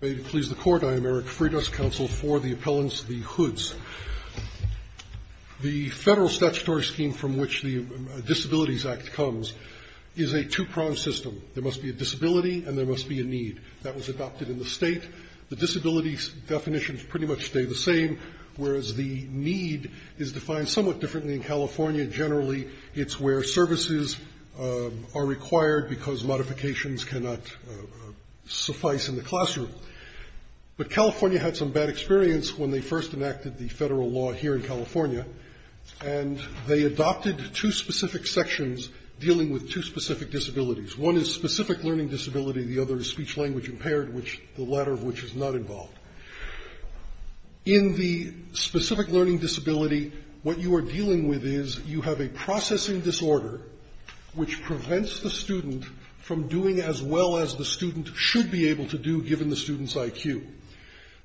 May it please the court, I am Eric Freitas, counsel for the appellants, the hoods. The federal statutory scheme from which the Disabilities Act comes is a two-pronged system. There must be a disability and there must be a need. That was adopted in the state. The disability definitions pretty much stay the same, whereas the need is defined somewhat differently in California. Generally, it's where services are required because modifications cannot suffice in the classroom. But California had some bad experience when they first enacted the federal law here in California and they adopted two specific sections dealing with two specific disabilities. One is specific learning disability, the other is speech-language impaired, the latter of which is not involved. In the specific learning disability, what you are dealing with is you have a processing disorder which prevents the student from doing as well as the student should be able to do, given the student's IQ.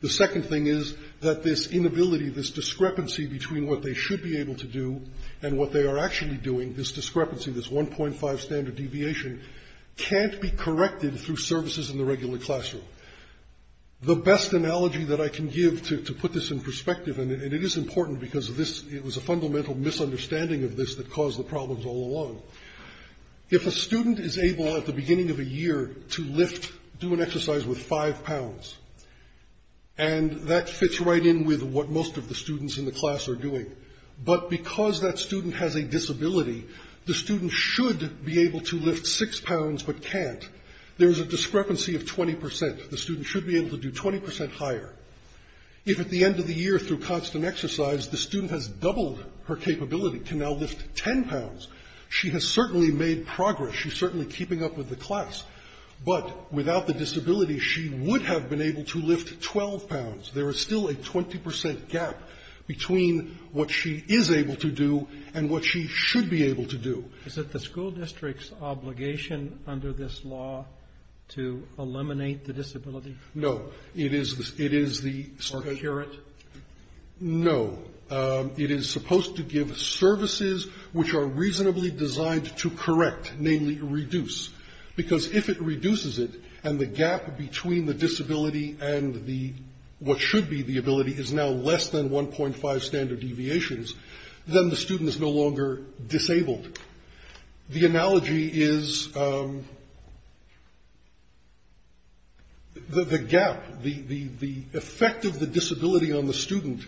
The second thing is that this inability, this discrepancy between what they should be able to do and what they are actually doing, this discrepancy, this 1.5 standard deviation, can't be corrected through services in the regular classroom. The best analogy that I can give to put this in perspective, and it is important because it was a fundamental misunderstanding of this that caused the problems all along. If a student is able at the beginning of a year to lift do an exercise with 5 pounds, and that fits right in with what most of the students in the class are doing, but because that student has a disability, the student should be able to lift 6 pounds but can't. There is a discrepancy of 20%. The student should be able to do 20% higher. If at the end of the year through constant exercise, the student has doubled her capability to now lift 10 pounds, she has certainly made progress. She's certainly keeping up with the class. But without the disability, she would have been able to lift 12 pounds. There is still a 20% gap between what she is able to do and what she should be able to do. Is it the school district's obligation under this law to eliminate the disability? No. It is the Or cure it? No. It is supposed to give services which are reasonably designed to correct, namely reduce. Because if it reduces it, and the gap between the disability and what should be the ability is now less than 1.5 standard deviations, then the student is no longer disabled. The analogy is the gap, the effect of the disability on the student,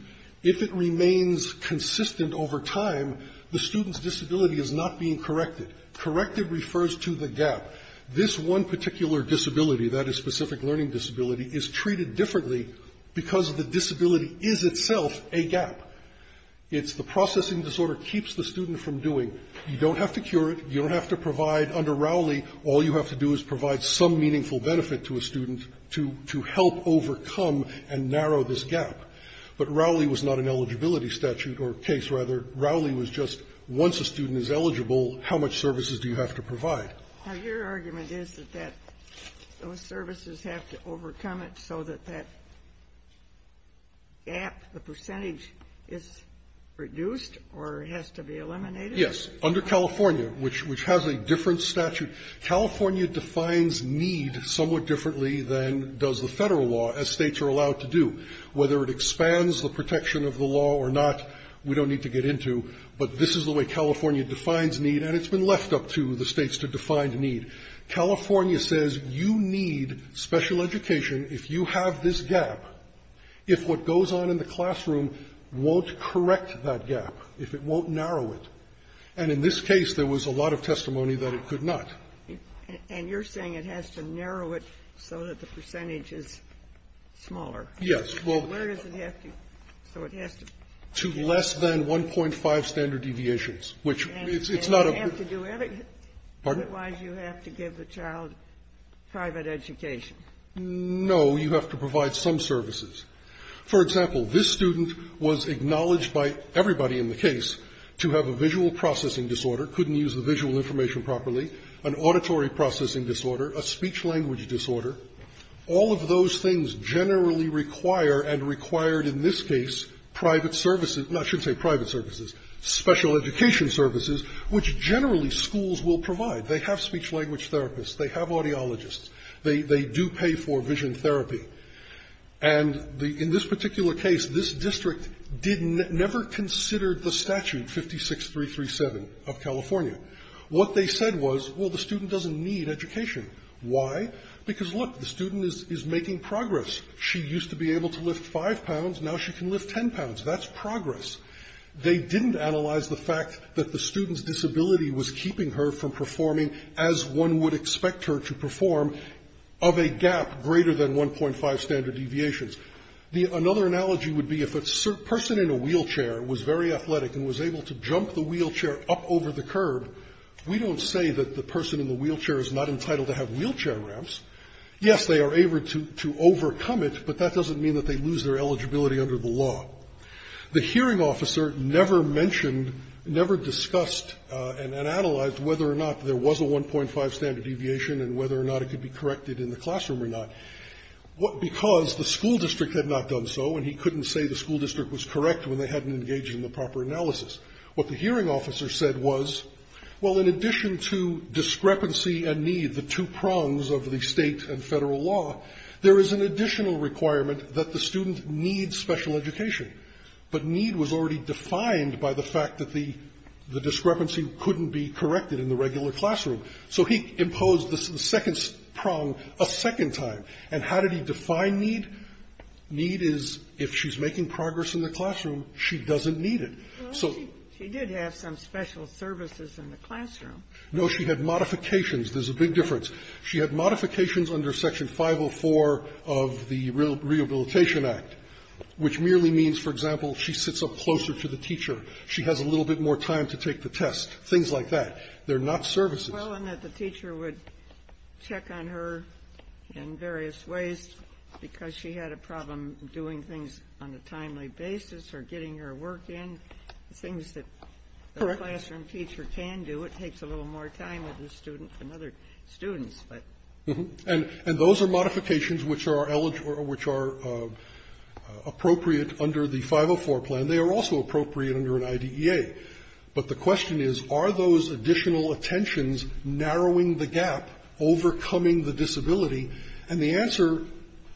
if it remains consistent over time, the student's disability is not being corrected. Corrected refers to the gap. This one particular disability, that is specific learning disability, is treated differently because the disability is itself a gap. It's the processing disorder keeps the student from doing. You don't have to cure it. You don't have to provide, under Rowley, all you have to do is provide some meaningful benefit to a student to help overcome and Rowley was not an eligibility statute or case, rather. Rowley was just once a student is eligible, how much services do you have to provide? Now, your argument is that those services have to overcome it so that that gap, the percentage is reduced or has to be eliminated? Yes. Under California, which has a different statute, California defines need somewhat differently than does the Federal law, as States are allowed to do. Whether it expands the protection of the law or not, we don't need to get into, but this is the way California defines need and it's been left up to the States to define need. California says you need special education if you have this gap, if what goes on in the classroom won't correct that gap, if it won't narrow it. And in this case, there was a lot of testimony that it could not. And you're saying it has to narrow it so that the percentage is smaller? Yes. Well, where does it have to? So it has to. To less than 1.5 standard deviations, which it's not a. And you have to do everything. Pardon? Otherwise, you have to give the child private education. No. You have to provide some services. For example, this student was acknowledged by everybody in the case to have a visual processing disorder, couldn't use the visual information properly, an auditory processing disorder, a speech-language disorder. All of those things generally require and required in this case private services no, I shouldn't say private services, special education services, which generally schools will provide. They have speech-language therapists. They have audiologists. They do pay for vision therapy. And in this particular case, this district didn't, never considered the statute 56337 of California. What they said was, well, the student doesn't need education. Why? Because, look, the student is making progress. She used to be able to lift five pounds. Now she can lift ten pounds. That's progress. They didn't analyze the fact that the student's disability was keeping her from performing as one would expect her to perform of a gap greater than 1.5 standard deviations. Another analogy would be if a person in a wheelchair was very athletic and was able to jump the wheelchair up over the curb, we don't say that the person in the wheelchair is not entitled to have wheelchair ramps. Yes, they are able to overcome it, but that doesn't mean that they lose their eligibility under the law. The hearing officer never mentioned, never discussed and analyzed whether or not there was a 1.5 standard deviation and whether or not it could be corrected in the classroom or not, because the school district had not done so and he couldn't say the school district was correct when they hadn't engaged in the proper analysis. What the hearing officer said was, well, in addition to discrepancy and need, the two prongs of the state and federal law, there is an additional requirement that the student need special education, but need was already defined by the fact that the discrepancy couldn't be corrected in the regular classroom. So he imposed the second prong a second time. And how did he define need? Need is if she's making progress in the classroom, she doesn't need it. So he did have some special services in the classroom. No, she had modifications. There's a big difference. She had modifications under Section 504 of the Rehabilitation Act, which merely means, for example, she sits up closer to the teacher, she has a little bit more time to take the test, things like that. They're not services. Well, and that the teacher would check on her in various ways because she had a problem doing things on a timely basis or getting her work in, things that the classroom teacher can do. It takes a little more time with the student than other students, but. And those are modifications which are appropriate under the 504 plan. They are also appropriate under an IDEA. But the question is, are those additional attentions narrowing the gap, overcoming the disability? And the answer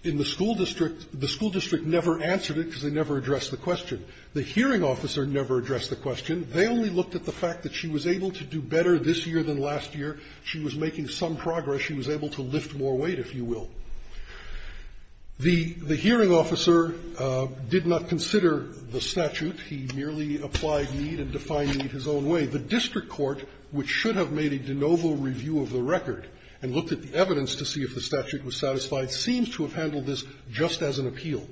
in the school district, the school district never answered it because they never addressed the question. The hearing officer never addressed the question. They only looked at the fact that she was able to do better this year than last year. She was making some progress. She was able to lift more weight, if you will. The hearing officer did not consider the statute. He merely applied need and defined need his own way. The district court, which should have made a de novo review of the record and looked at the evidence to see if the statute was satisfied, seems to have handled this just as an appeal.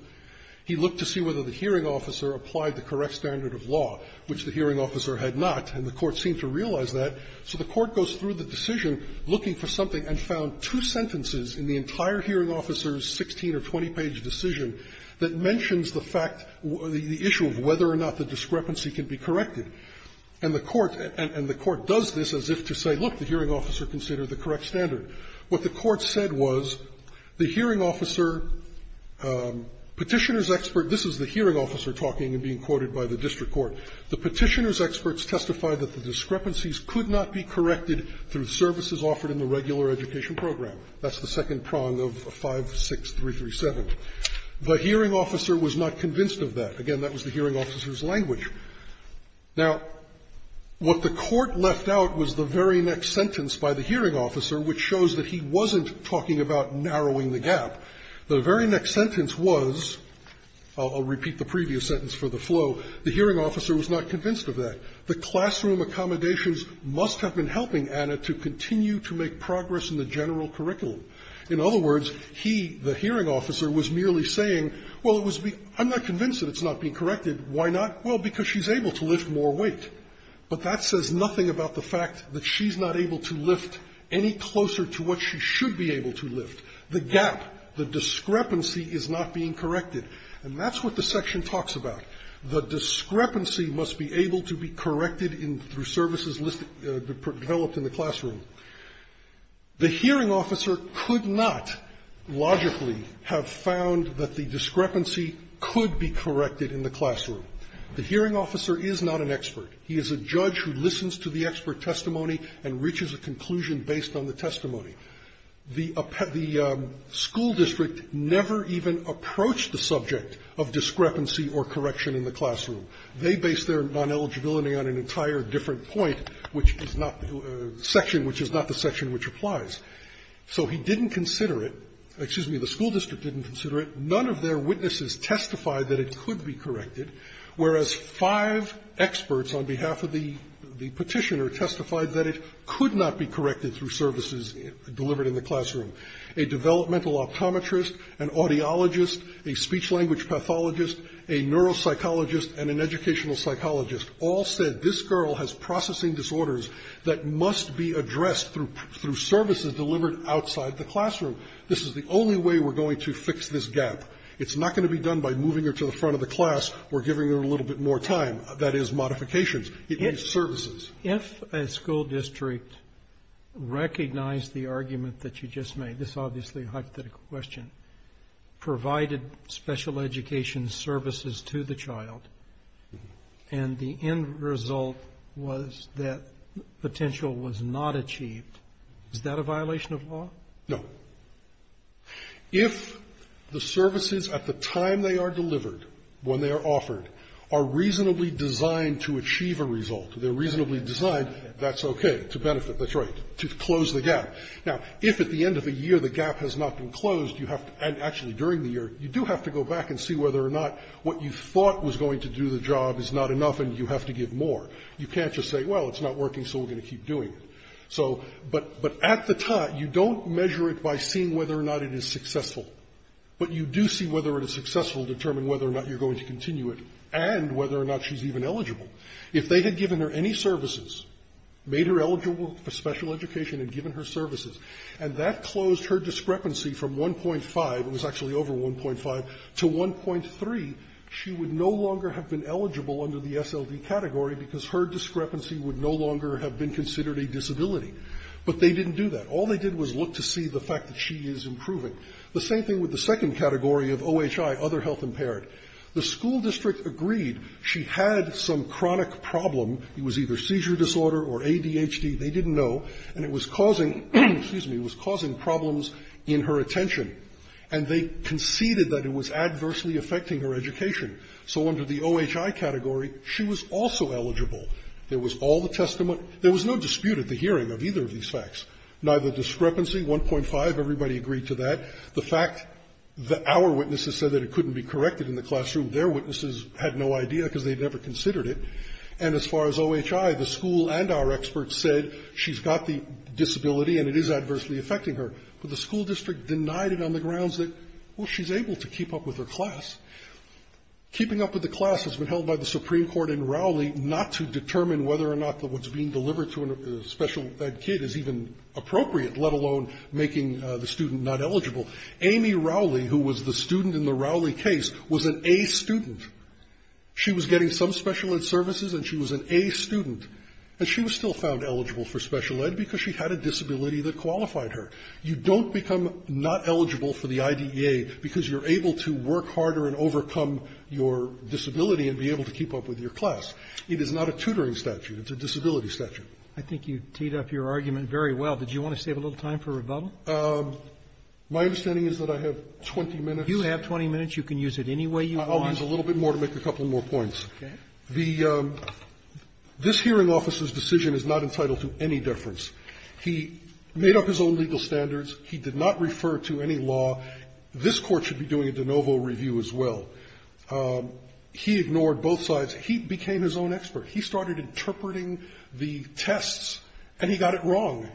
He looked to see whether the hearing officer applied the correct standard of law, which the hearing officer had not, and the court seemed to realize that. So the court goes through the decision, looking for something, and found two sentences in the entire hearing officer's 16- or 20-page decision that mentions the fact, the discrepancy can be corrected. And the court does this as if to say, look, the hearing officer considered the correct standard. What the court said was, the hearing officer, Petitioner's expert, this is the hearing officer talking and being quoted by the district court, the Petitioner's expert testified that the discrepancies could not be corrected through services offered in the regular education program. That's the second prong of 56337. The hearing officer was not convinced of that. Again, that was the hearing officer's language. Now, what the court left out was the very next sentence by the hearing officer, which shows that he wasn't talking about narrowing the gap. The very next sentence was, I'll repeat the previous sentence for the flow, the hearing officer was not convinced of that. The classroom accommodations must have been helping Anna to continue to make progress in the general curriculum. In other words, he, the hearing officer, was merely saying, well, it was been – I'm not convinced that it's not being corrected. Why not? Well, because she's able to lift more weight. But that says nothing about the fact that she's not able to lift any closer to what she should be able to lift. The gap, the discrepancy is not being corrected. And that's what the section talks about. The discrepancy must be able to be corrected in – through services listed – developed in the classroom. The hearing officer could not logically have found that the discrepancy could be corrected in the classroom. The hearing officer is not an expert. He is a judge who listens to the expert testimony and reaches a conclusion based on the testimony. The school district never even approached the subject of discrepancy or correction in the classroom. They based their non-eligibility on an entire different point, which is not – section which is not the section which applies. So he didn't consider it – excuse me, the school district didn't consider it. None of their witnesses testified that it could be corrected, whereas five experts on behalf of the petitioner testified that it could not be corrected through services delivered in the classroom. A developmental optometrist, an audiologist, a speech-language pathologist, a neuropsychologist, and an educational psychologist all said this girl has processing disorders that must be addressed through services delivered outside the classroom. This is the only way we're going to fix this gap. It's not going to be done by moving her to the front of the class or giving her a little bit more time. That is modifications. It means services. If a school district recognized the argument that you just made – this is obviously a hypothetical question – provided special education services to the child, and the end of the year the gap has not been closed, you have to – and actually during the year, you do have to go back and see whether or not what you thought was going to do the job is not enough, and you have to give more. You can't just say, well, it's not working, so we're going to keep doing it. So – but at the time, you don't measure it by seeing whether or not it is successful. But you do see whether it is successful to determine whether or not you're going to continue it, and whether or not she's even eligible. If they had given her any services, made her eligible for special education and given her services, and that closed her discrepancy from 1.5 – it was actually over 1.5 – to 1.3, she would no longer have been eligible under the SLD category because her discrepancy would no longer have been considered a disability. But they didn't do that. All they did was look to see the fact that she is improving. The same thing with the second category of OHI, other health impaired. The school district agreed she had some chronic problem. It was either seizure disorder or ADHD. They didn't know. And it was causing – excuse me – it was causing problems in her attention. And they conceded that it was adversely affecting her education. So under the OHI category, she was also eligible. There was all the testament. There was no dispute at the hearing of either of these facts. Neither discrepancy, 1.5, everybody agreed to that. The fact that our witnesses said that it couldn't be corrected in the classroom, their witnesses had no idea because they'd never considered it. And as far as OHI, the school and our experts said she's got the disability and it is adversely affecting her. But the school district denied it on the grounds that, well, she's able to keep up with her class. Keeping up with the class has been held by the Supreme Court in Rowley not to determine whether or not what's being delivered to a special ed kid is even appropriate, let alone making the student not eligible. Amy Rowley, who was the student in the Rowley case, was an A student. She was getting some special ed services and she was an A student. And she was still found eligible for special ed because she had a disability that qualified her. You don't become not eligible for the IDEA because you're able to work harder and overcome your disability and be able to keep up with your class. It is not a tutoring statute. It's a disability statute. Roberts. I think you teed up your argument very well. Did you want to save a little time for rebuttal? My understanding is that I have 20 minutes. You have 20 minutes. You can use it any way you want. I'll use a little bit more to make a couple more points. Okay. This hearing officer's decision is not entitled to any deference. He made up his own legal standards. He did not refer to any law. This Court should be doing a de novo review as well. He ignored both sides. He became his own expert. He started interpreting the tests and he got it wrong.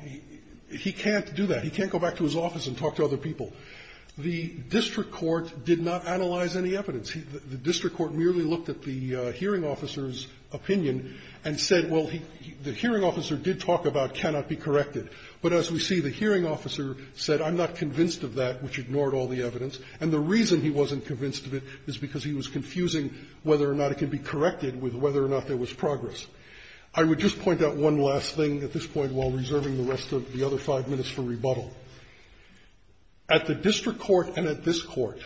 He can't do that. He can't go back to his office and talk to other people. The district court did not analyze any evidence. The district court merely looked at the hearing officer's opinion and said, well, the hearing officer did talk about cannot be corrected. But as we see, the hearing officer said, I'm not convinced of that, which ignored all the evidence, and the reason he wasn't convinced of it is because he was confusing whether or not it can be corrected with whether or not there was progress. I would just point out one last thing at this point while reserving the rest of the other five minutes for rebuttal. At the district court and at this Court,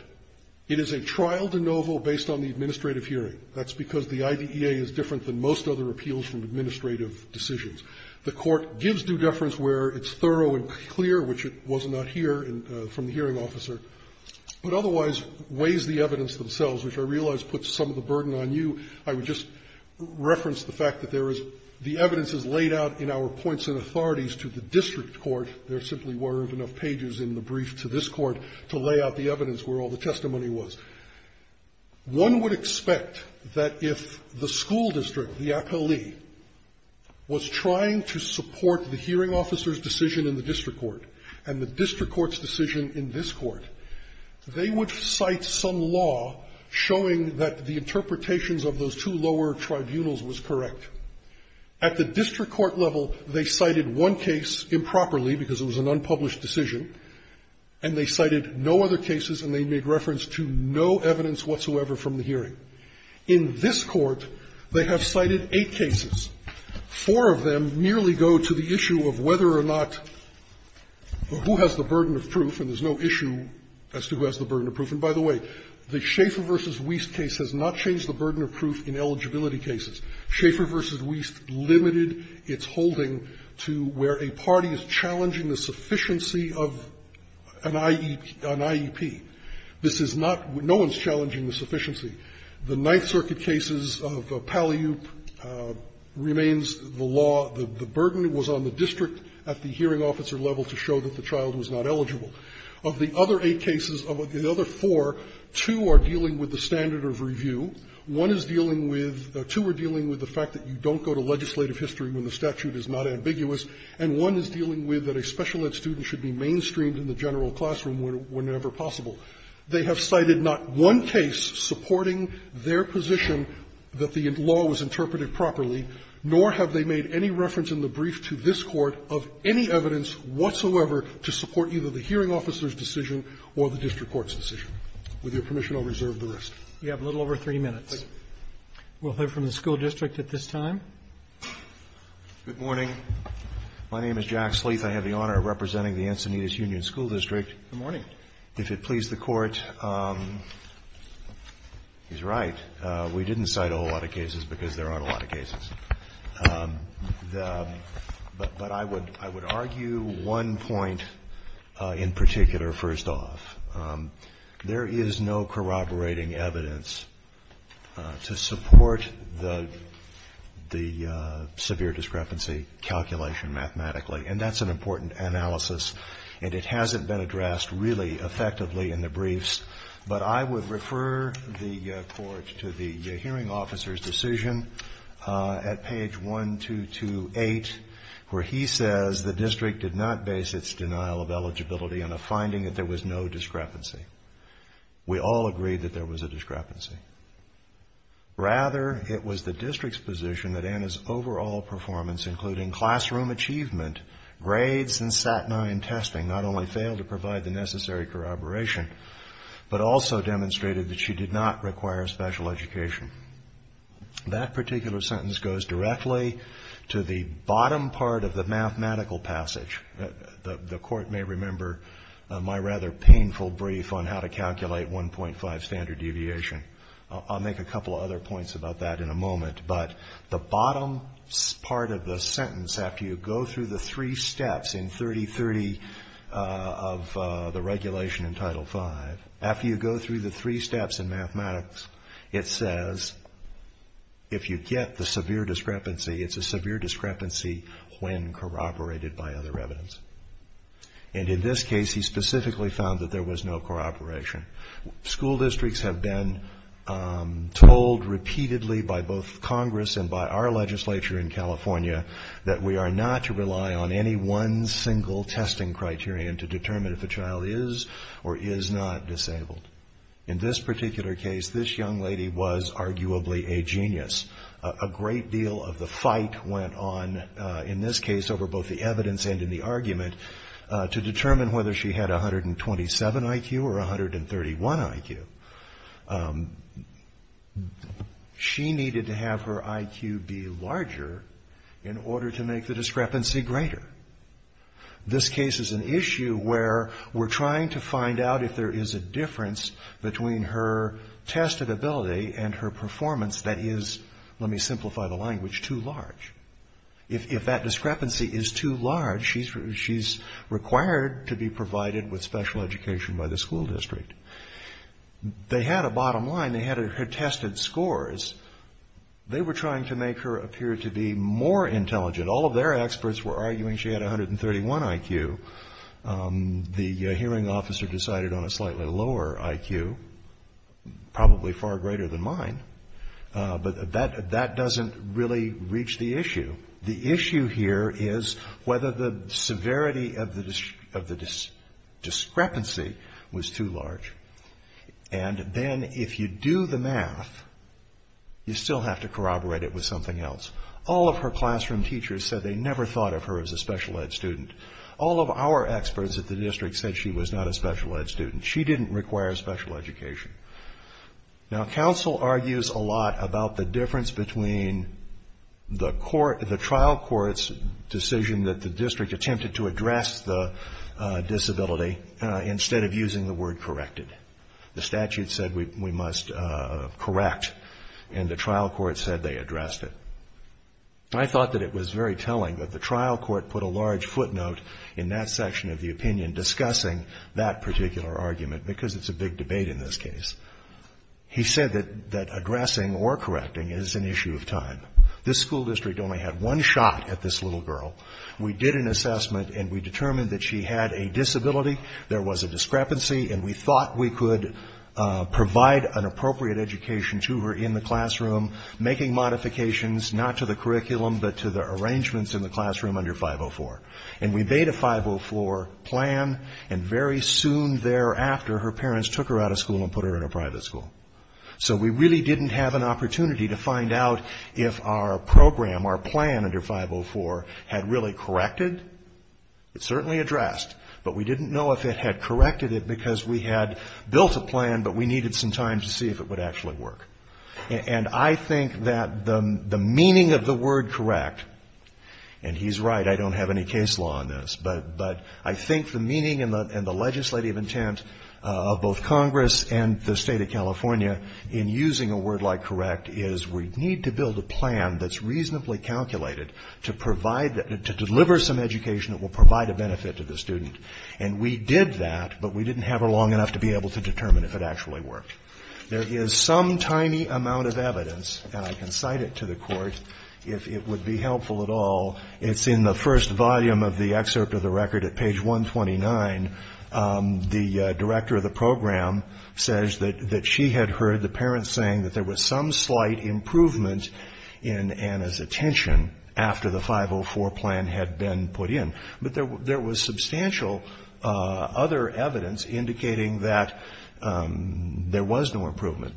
it is a trial de novo based on the administrative hearing. That's because the IDEA is different than most other appeals from administrative decisions. The Court gives due deference where it's thorough and clear, which it was not here from the hearing officer, but otherwise weighs the evidence themselves, which I realize puts some of the burden on you. I would just reference the fact that there is the evidence is laid out in our points and authorities to the district court. There simply weren't enough pages in the brief to this Court to lay out the evidence where all the testimony was. One would expect that if the school district, the appellee, was trying to support the hearing officer's decision in the district court and the district court's decision in this Court, they would cite some law showing that the interpretations of those two lower tribunals was correct. At the district court level, they cited one case improperly because it was an unpublished decision, and they cited no other cases, and they made reference to no evidence whatsoever from the hearing. In this Court, they have cited eight cases. Four of them merely go to the issue of whether or not who has the burden of proof, and there's no issue as to who has the burden of proof. And by the way, the Schaeffer v. Wiest case has not changed the burden of proof in eligibility cases. Schaeffer v. Wiest limited its holding to where a party is challenging the sufficiency of an IEP. This is not – no one is challenging the sufficiency. The Ninth Circuit cases of Palliup remains the law. The burden was on the district at the hearing officer level to show that the child was not eligible. Of the other eight cases, of the other four, two are dealing with the standard of review. One is dealing with – two are dealing with the fact that you don't go to legislative history when the statute is not ambiguous, and one is dealing with that a special level that students should be mainstreamed in the general classroom whenever possible. They have cited not one case supporting their position that the law was interpreted properly, nor have they made any reference in the brief to this Court of any evidence whatsoever to support either the hearing officer's decision or the district court's decision. With your permission, I'll reserve the rest. Roberts. We have a little over three minutes. We'll hear from the school district at this time. Good morning. My name is Jack Sleeth. I have the honor of representing the Encinitas Union School District. Good morning. If it pleases the Court, he's right. We didn't cite a whole lot of cases because there aren't a lot of cases. But I would argue one point in particular first off. There is no corroborating evidence to support the severe discrepancy calculation mathematically. And that's an important analysis. And it hasn't been addressed really effectively in the briefs. But I would refer the Court to the hearing officer's decision at page 1228 where he says the district did not base its denial of eligibility on a finding that there was no discrepancy. We all agreed that there was a discrepancy. Rather, it was the district's position that Anna's overall performance, including classroom achievement, grades, and SAT 9 testing, not only failed to provide the necessary corroboration, but also demonstrated that she did not require special education. That particular sentence goes directly to the bottom part of the mathematical passage. The Court may remember my rather painful brief on how to calculate 1.5 standard deviation. I'll make a couple of other points about that in a moment. But the bottom part of the sentence, after you go through the three steps in 3030 of the regulation in Title V, after you go through the three steps in mathematics, it says if you get the severe discrepancy, it's a severe discrepancy when corroborated by other evidence. And in this case, he specifically found that there was no corroboration. School districts have been told repeatedly by both Congress and by our legislature in California that we are not to rely on any one single testing criterion to determine if a child is or is not disabled. In this particular case, this young lady was arguably a genius. A great deal of the fight went on, in this case, over both the evidence and in the argument, to determine whether she had a 127 IQ or a 131 IQ. She needed to have her IQ be larger in order to make the discrepancy greater. This case is an issue where we're trying to find out if there is a difference between her testability and her performance that is, let me simplify the language, too large. If that discrepancy is too large, she's required to be provided with special education by the school district. They had a bottom line. They had her tested scores. They were trying to make her appear to be more intelligent. All of their experts were arguing she had a 131 IQ. The hearing officer decided on a slightly lower IQ, probably far greater than mine. But that doesn't really reach the issue. The issue here is whether the severity of the discrepancy was too large. And then if you do the math, you still have to corroborate it with something else. All of her classroom teachers said they never thought of her as a special ed student. All of our experts at the district said she was not a special ed student. She didn't require special education. Now, counsel argues a lot about the difference between the trial court's decision that the district attempted to address the disability instead of using the word corrected. The statute said we must correct, and the trial court said they addressed it. I thought that it was very telling that the trial court put a large footnote in that section of the opinion discussing that particular argument because it's a big debate in this case. He said that addressing or correcting is an issue of time. This school district only had one shot at this little girl. We did an assessment, and we determined that she had a disability, there was a discrepancy, and we thought we could provide an appropriate education to her in the classroom, making modifications not to the curriculum but to the arrangements in the classroom under 504. And we made a 504 plan, and very soon thereafter, her parents took her out of school and put her in a private school. So we really didn't have an opportunity to find out if our program, our plan under 504, had really corrected. It certainly addressed, but we didn't know if it had corrected it because we had built a plan, but we needed some time to see if it would actually work. And I think that the meaning of the word correct, and he's right, I don't have any case law on this, but I think the meaning and the legislative intent of both Congress and the State of California in using a word like correct is we need to build a plan that's reasonably calculated to provide, to deliver some education that will provide a benefit to the student. And we did that, but we didn't have her long enough to be able to determine if it actually worked. There is some tiny amount of evidence, and I can cite it to the Court, if it would be helpful at all. It's in the first volume of the excerpt of the record at page 129. The director of the program says that she had heard the parents saying that there was some slight improvement in Anna's attention after the 504 plan had been put in. But there was substantial other evidence indicating that there was no improvement.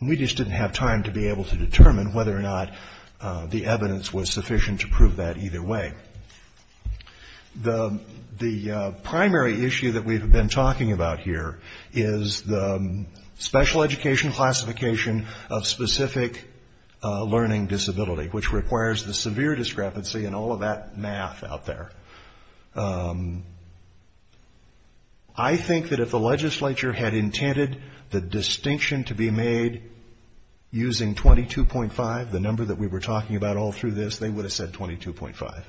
We just didn't have time to be able to determine whether or not the evidence was sufficient to prove that either way. The primary issue that we've been talking about here is the special education classification of specific learning disability, which requires the severe discrepancy in all of that math out there. I think that if the legislature had intended the distinction to be made using 22.5, the number that we were talking about all through this, they would have said 22.5.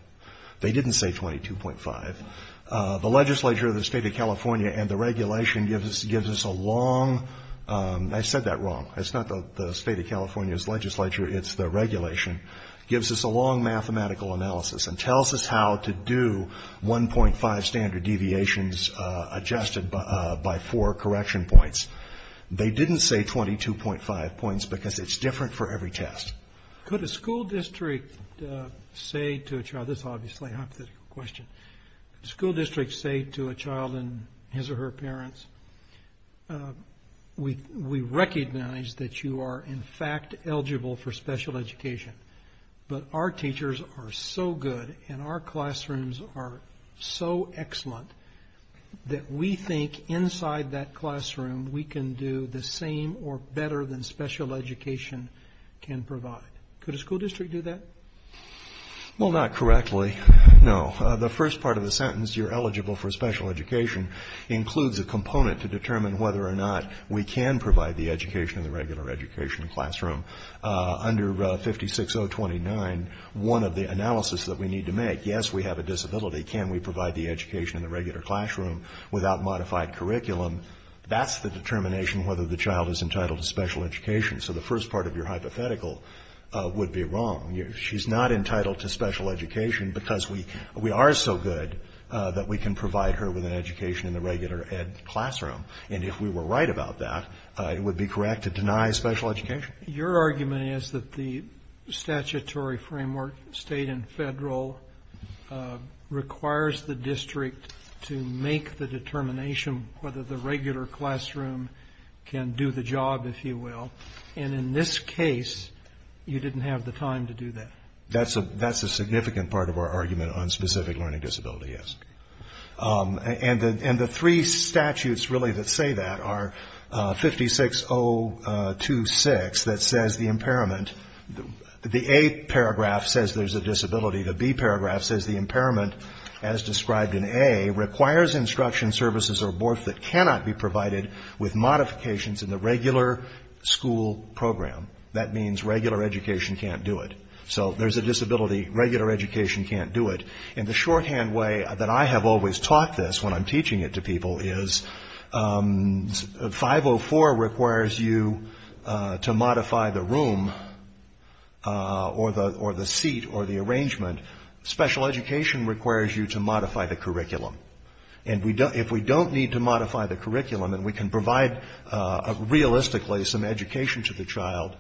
They didn't say 22.5. The legislature of the state of California and the regulation gives us a long, I said that wrong, it's not the state of California's legislature, it's the regulation, gives us a long mathematical analysis and tells us how to do 1.5 standard deviations adjusted by four correction points. They didn't say 22.5 points because it's different for every test. Could a school district say to a child, this is obviously a hypothetical question, could a school district say to a child and his or her parents, we recognize that you are in fact eligible for special education, but our teachers are so good and our classrooms are so excellent that we think inside that classroom we can do the same or better than special education can provide? Could a school district do that? Well, not correctly, no. The first part of the sentence, you're eligible for special education, includes a component to determine whether or not we can provide the education in the regular education classroom. Under 56029, one of the analysis that we need to make, yes, we have a disability. Can we provide the education in the regular classroom without modified curriculum? That's the determination whether the child is entitled to special education. So the first part of your hypothetical would be wrong. She's not entitled to special education because we are so good that we can provide her with an education in the regular ed classroom. And if we were right about that, it would be correct to deny special education. Your argument is that the statutory framework, state and federal, requires the district to make the determination whether the regular classroom can do the job, if you will. And in this case, you didn't have the time to do that. That's a significant part of our argument on specific learning disability, yes. And the three statutes really that say that are 56026 that says the impairment, the A paragraph says there's a disability, the B paragraph says the impairment, as described in A, requires instruction services or boards that cannot be provided with modifications in the regular school program. That means regular education can't do it. So there's a disability, regular education can't do it. And the shorthand way that I have always taught this when I'm teaching it to people is 504 requires you to modify the room or the seat or the arrangement. Special education requires you to modify the curriculum. And if we don't need to modify the curriculum and we can provide realistically some education to the child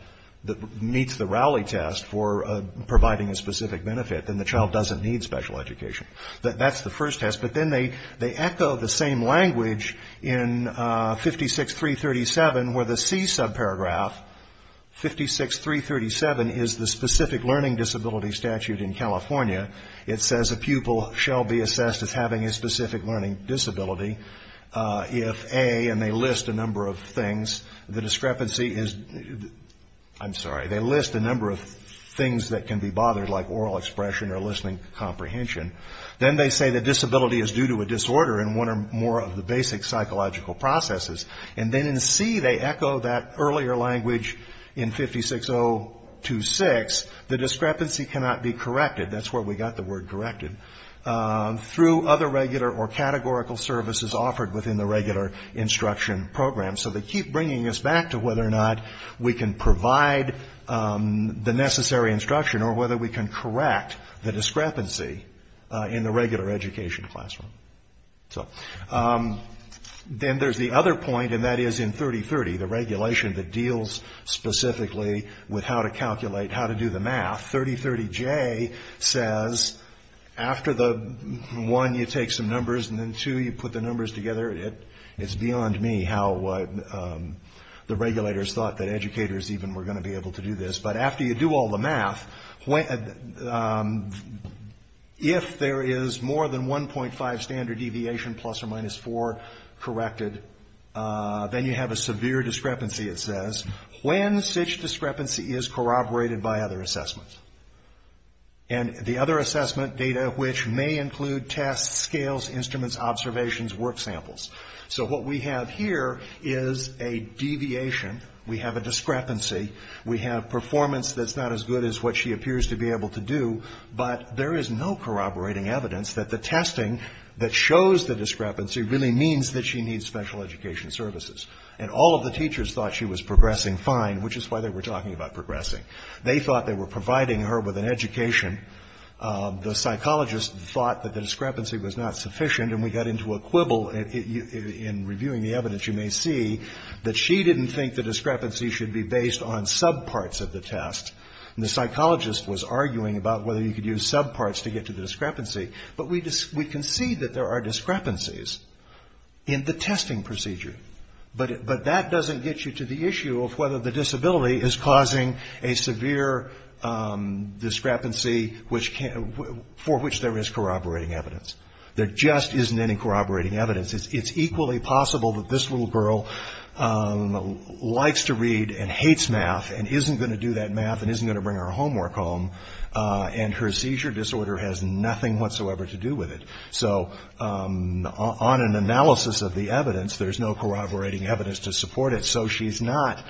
that meets the Rowley test for providing a specific benefit, then the child doesn't need special education. That's the first test. But then they echo the same language in 56337 where the C subparagraph, 56337, is the specific learning disability statute in California. It says a pupil shall be assessed as having a specific learning disability if, A, and they list a number of things, the discrepancy is, I'm sorry, they list a number of things that can be bothered like oral expression or listening comprehension. Then they say the disability is due to a disorder in one or more of the basic psychological processes. And then in C they echo that earlier language in 56026, the discrepancy cannot be corrected. That's where we got the word corrected. Through other regular or categorical services offered within the regular instruction program. So they keep bringing us back to whether or not we can provide the necessary instruction or whether we can correct the discrepancy in the regular education classroom. So then there's the other point, and that is in 3030, the regulation that deals specifically with how to calculate how to do the math. 3030J says after the one, you take some numbers, and then two, you put the numbers together. It's beyond me how the regulators thought that educators even were going to be able to do this. But after you do all the math, if there is more than 1.5 standard deviation, plus or minus 4 corrected, then you have a severe discrepancy, it says, when such discrepancy is corroborated by other assessments. And the other assessment data, which may include tests, scales, instruments, observations, work samples. So what we have here is a deviation. We have a discrepancy. We have performance that's not as good as what she appears to be able to do. But there is no corroborating evidence that the testing that shows the discrepancy really means that she needs special education services. And all of the teachers thought she was progressing fine, which is why they were talking about progressing. They thought they were providing her with an education. The psychologists thought that the discrepancy was not sufficient, and we got into a quibble in reviewing the evidence you may see, that she didn't think the discrepancy should be based on subparts of the test. And the psychologist was arguing about whether you could use subparts to get to the discrepancy. But we can see that there are discrepancies in the testing procedure. But that doesn't get you to the issue of whether the disability is causing a severe discrepancy for which there is corroborating evidence. There just isn't any corroborating evidence. It's equally possible that this little girl likes to read and hates math and isn't going to do that math and isn't going to bring her homework home. And her seizure disorder has nothing whatsoever to do with it. So on an analysis of the evidence, there's no corroborating evidence to support it. So she's not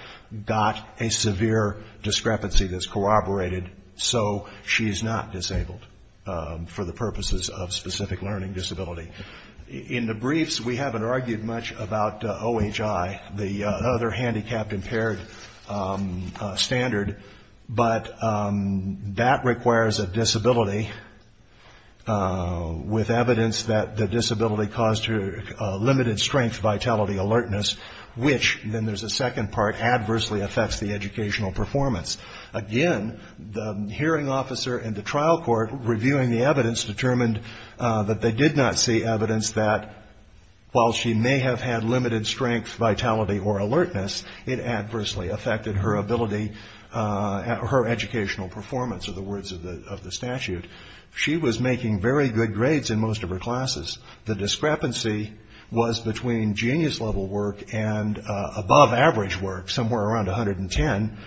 got a severe discrepancy that's corroborated. So she's not disabled for the purposes of specific learning disability. In the briefs, we haven't argued much about OHI, the other handicapped impaired standard. But that requires a disability with evidence that the disability caused her limited strength, vitality, alertness, which then there's a second part, adversely affects the educational performance. Again, the hearing officer in the trial court reviewing the evidence determined that they did not see evidence that, while she may have had limited strength, vitality, or alertness, it adversely affected her ability, her educational performance are the words of the statute. She was making very good grades in most of her classes. The discrepancy was between genius level work and above average work, somewhere around 110.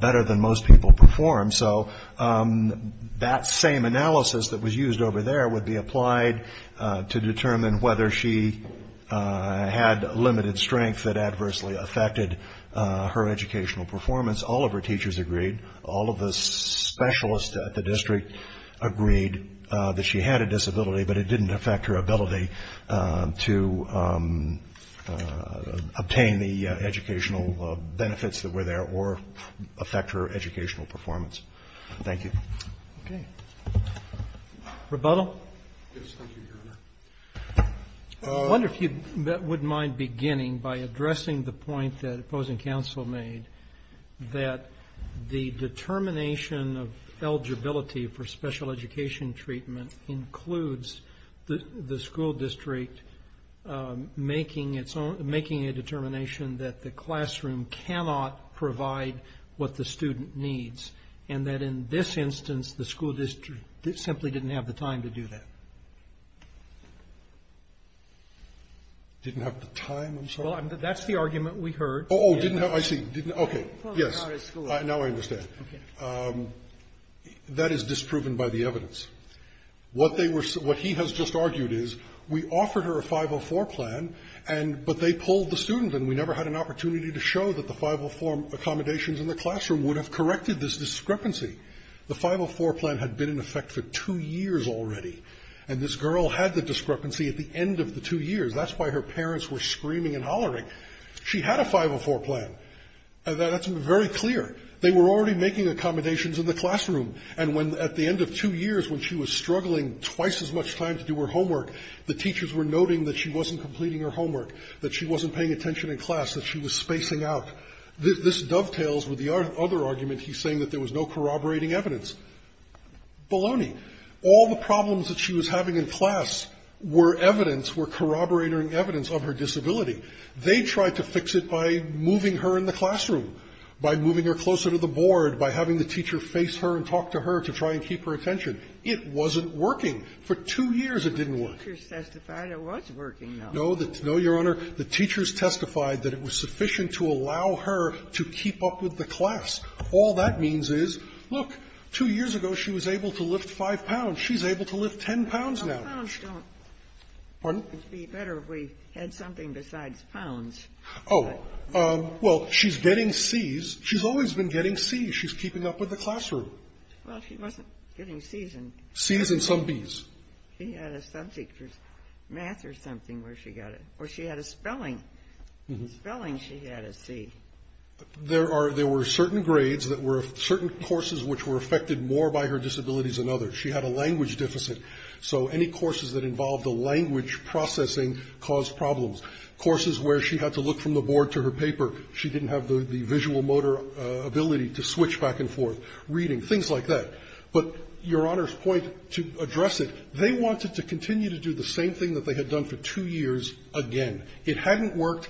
Better than most people perform. So that same analysis that was used over there would be applied to determine whether she had limited strength that adversely affected her educational performance. All of her teachers agreed. All of the specialists at the district agreed that she had a disability, but it didn't affect her ability to obtain the educational benefits that were there or affect her educational performance. Thank you. Okay. Rebuttal? Yes, thank you, Your Honor. I wonder if you wouldn't mind beginning by addressing the point that opposing counsel made, that the determination of eligibility for special education treatment includes the school district making its own, making a determination that the classroom cannot provide what the student needs, and that in this instance the school district simply didn't have the time to do that. Didn't have the time, I'm sorry? Well, that's the argument we heard. Oh, I see. Okay. Yes. Now I understand. That is disproven by the evidence. What he has just argued is we offered her a 504 plan, but they pulled the student and we never had an opportunity to show that the 504 accommodations in the classroom would have corrected this discrepancy. The 504 plan had been in effect for two years already, and this girl had the discrepancy at the end of the two years. That's why her parents were screaming and hollering. She had a 504 plan. That's very clear. They were already making accommodations in the classroom, and at the end of two years when she was struggling twice as much time to do her homework, the teachers were noting that she wasn't completing her homework, that she wasn't paying attention in class, that she was spacing out. This dovetails with the other argument he's saying that there was no corroborating evidence. Baloney. All the problems that she was having in class were evidence, were corroborating evidence, of her disability. They tried to fix it by moving her in the classroom, by moving her closer to the board, by having the teacher face her and talk to her to try and keep her attention. It wasn't working. For two years it didn't work. No, Your Honor. The teachers testified that it was sufficient to allow her to keep up with the class. All that means is, look, two years ago she was able to lift 5 pounds. She's able to lift 10 pounds now. Pardon? It would be better if we had something besides pounds. Oh, well, she's getting C's. She's always been getting C's. She's keeping up with the classroom. Well, she wasn't getting C's. C's and some B's. She had a subject for math or something where she got it. Or she had a spelling. Spelling she had a C. There were certain grades that were, certain courses which were affected more by her disabilities than others. She had a language deficit. So any courses that involved a language processing caused problems. Courses where she had to look from the board to her paper. She didn't have the visual motor ability to switch back and forth, reading, things like that. But Your Honor's point to address it, they wanted to continue to do the same thing that they had done for two years again. It hadn't worked.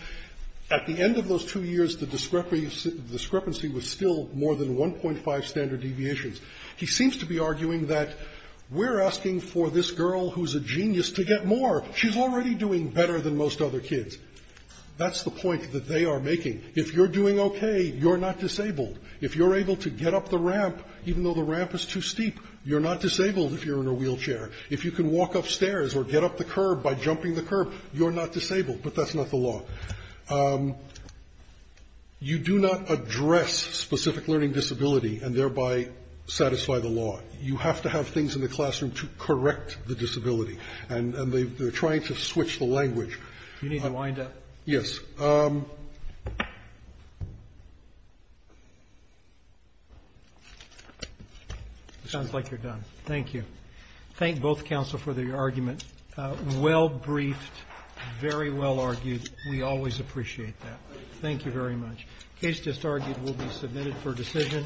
At the end of those two years, the discrepancy was still more than 1.5 standard deviations. He seems to be arguing that we're asking for this girl who's a genius to get more. She's already doing better than most other kids. That's the point that they are making. If you're doing okay, you're not disabled. If you're able to get up the ramp, even though the ramp is too steep, you're not disabled if you're in a wheelchair. If you can walk upstairs or get up the curb by jumping the curb, you're not disabled. But that's not the law. You do not address specific learning disability and thereby satisfy the law. You have to have things in the classroom to correct the disability. And they're trying to switch the language. You need to wind up. Yes. It sounds like you're done. Thank you. Thank both counsel for the argument. Well briefed, very well argued. We always appreciate that. Thank you very much. Case disargued will be submitted for decision.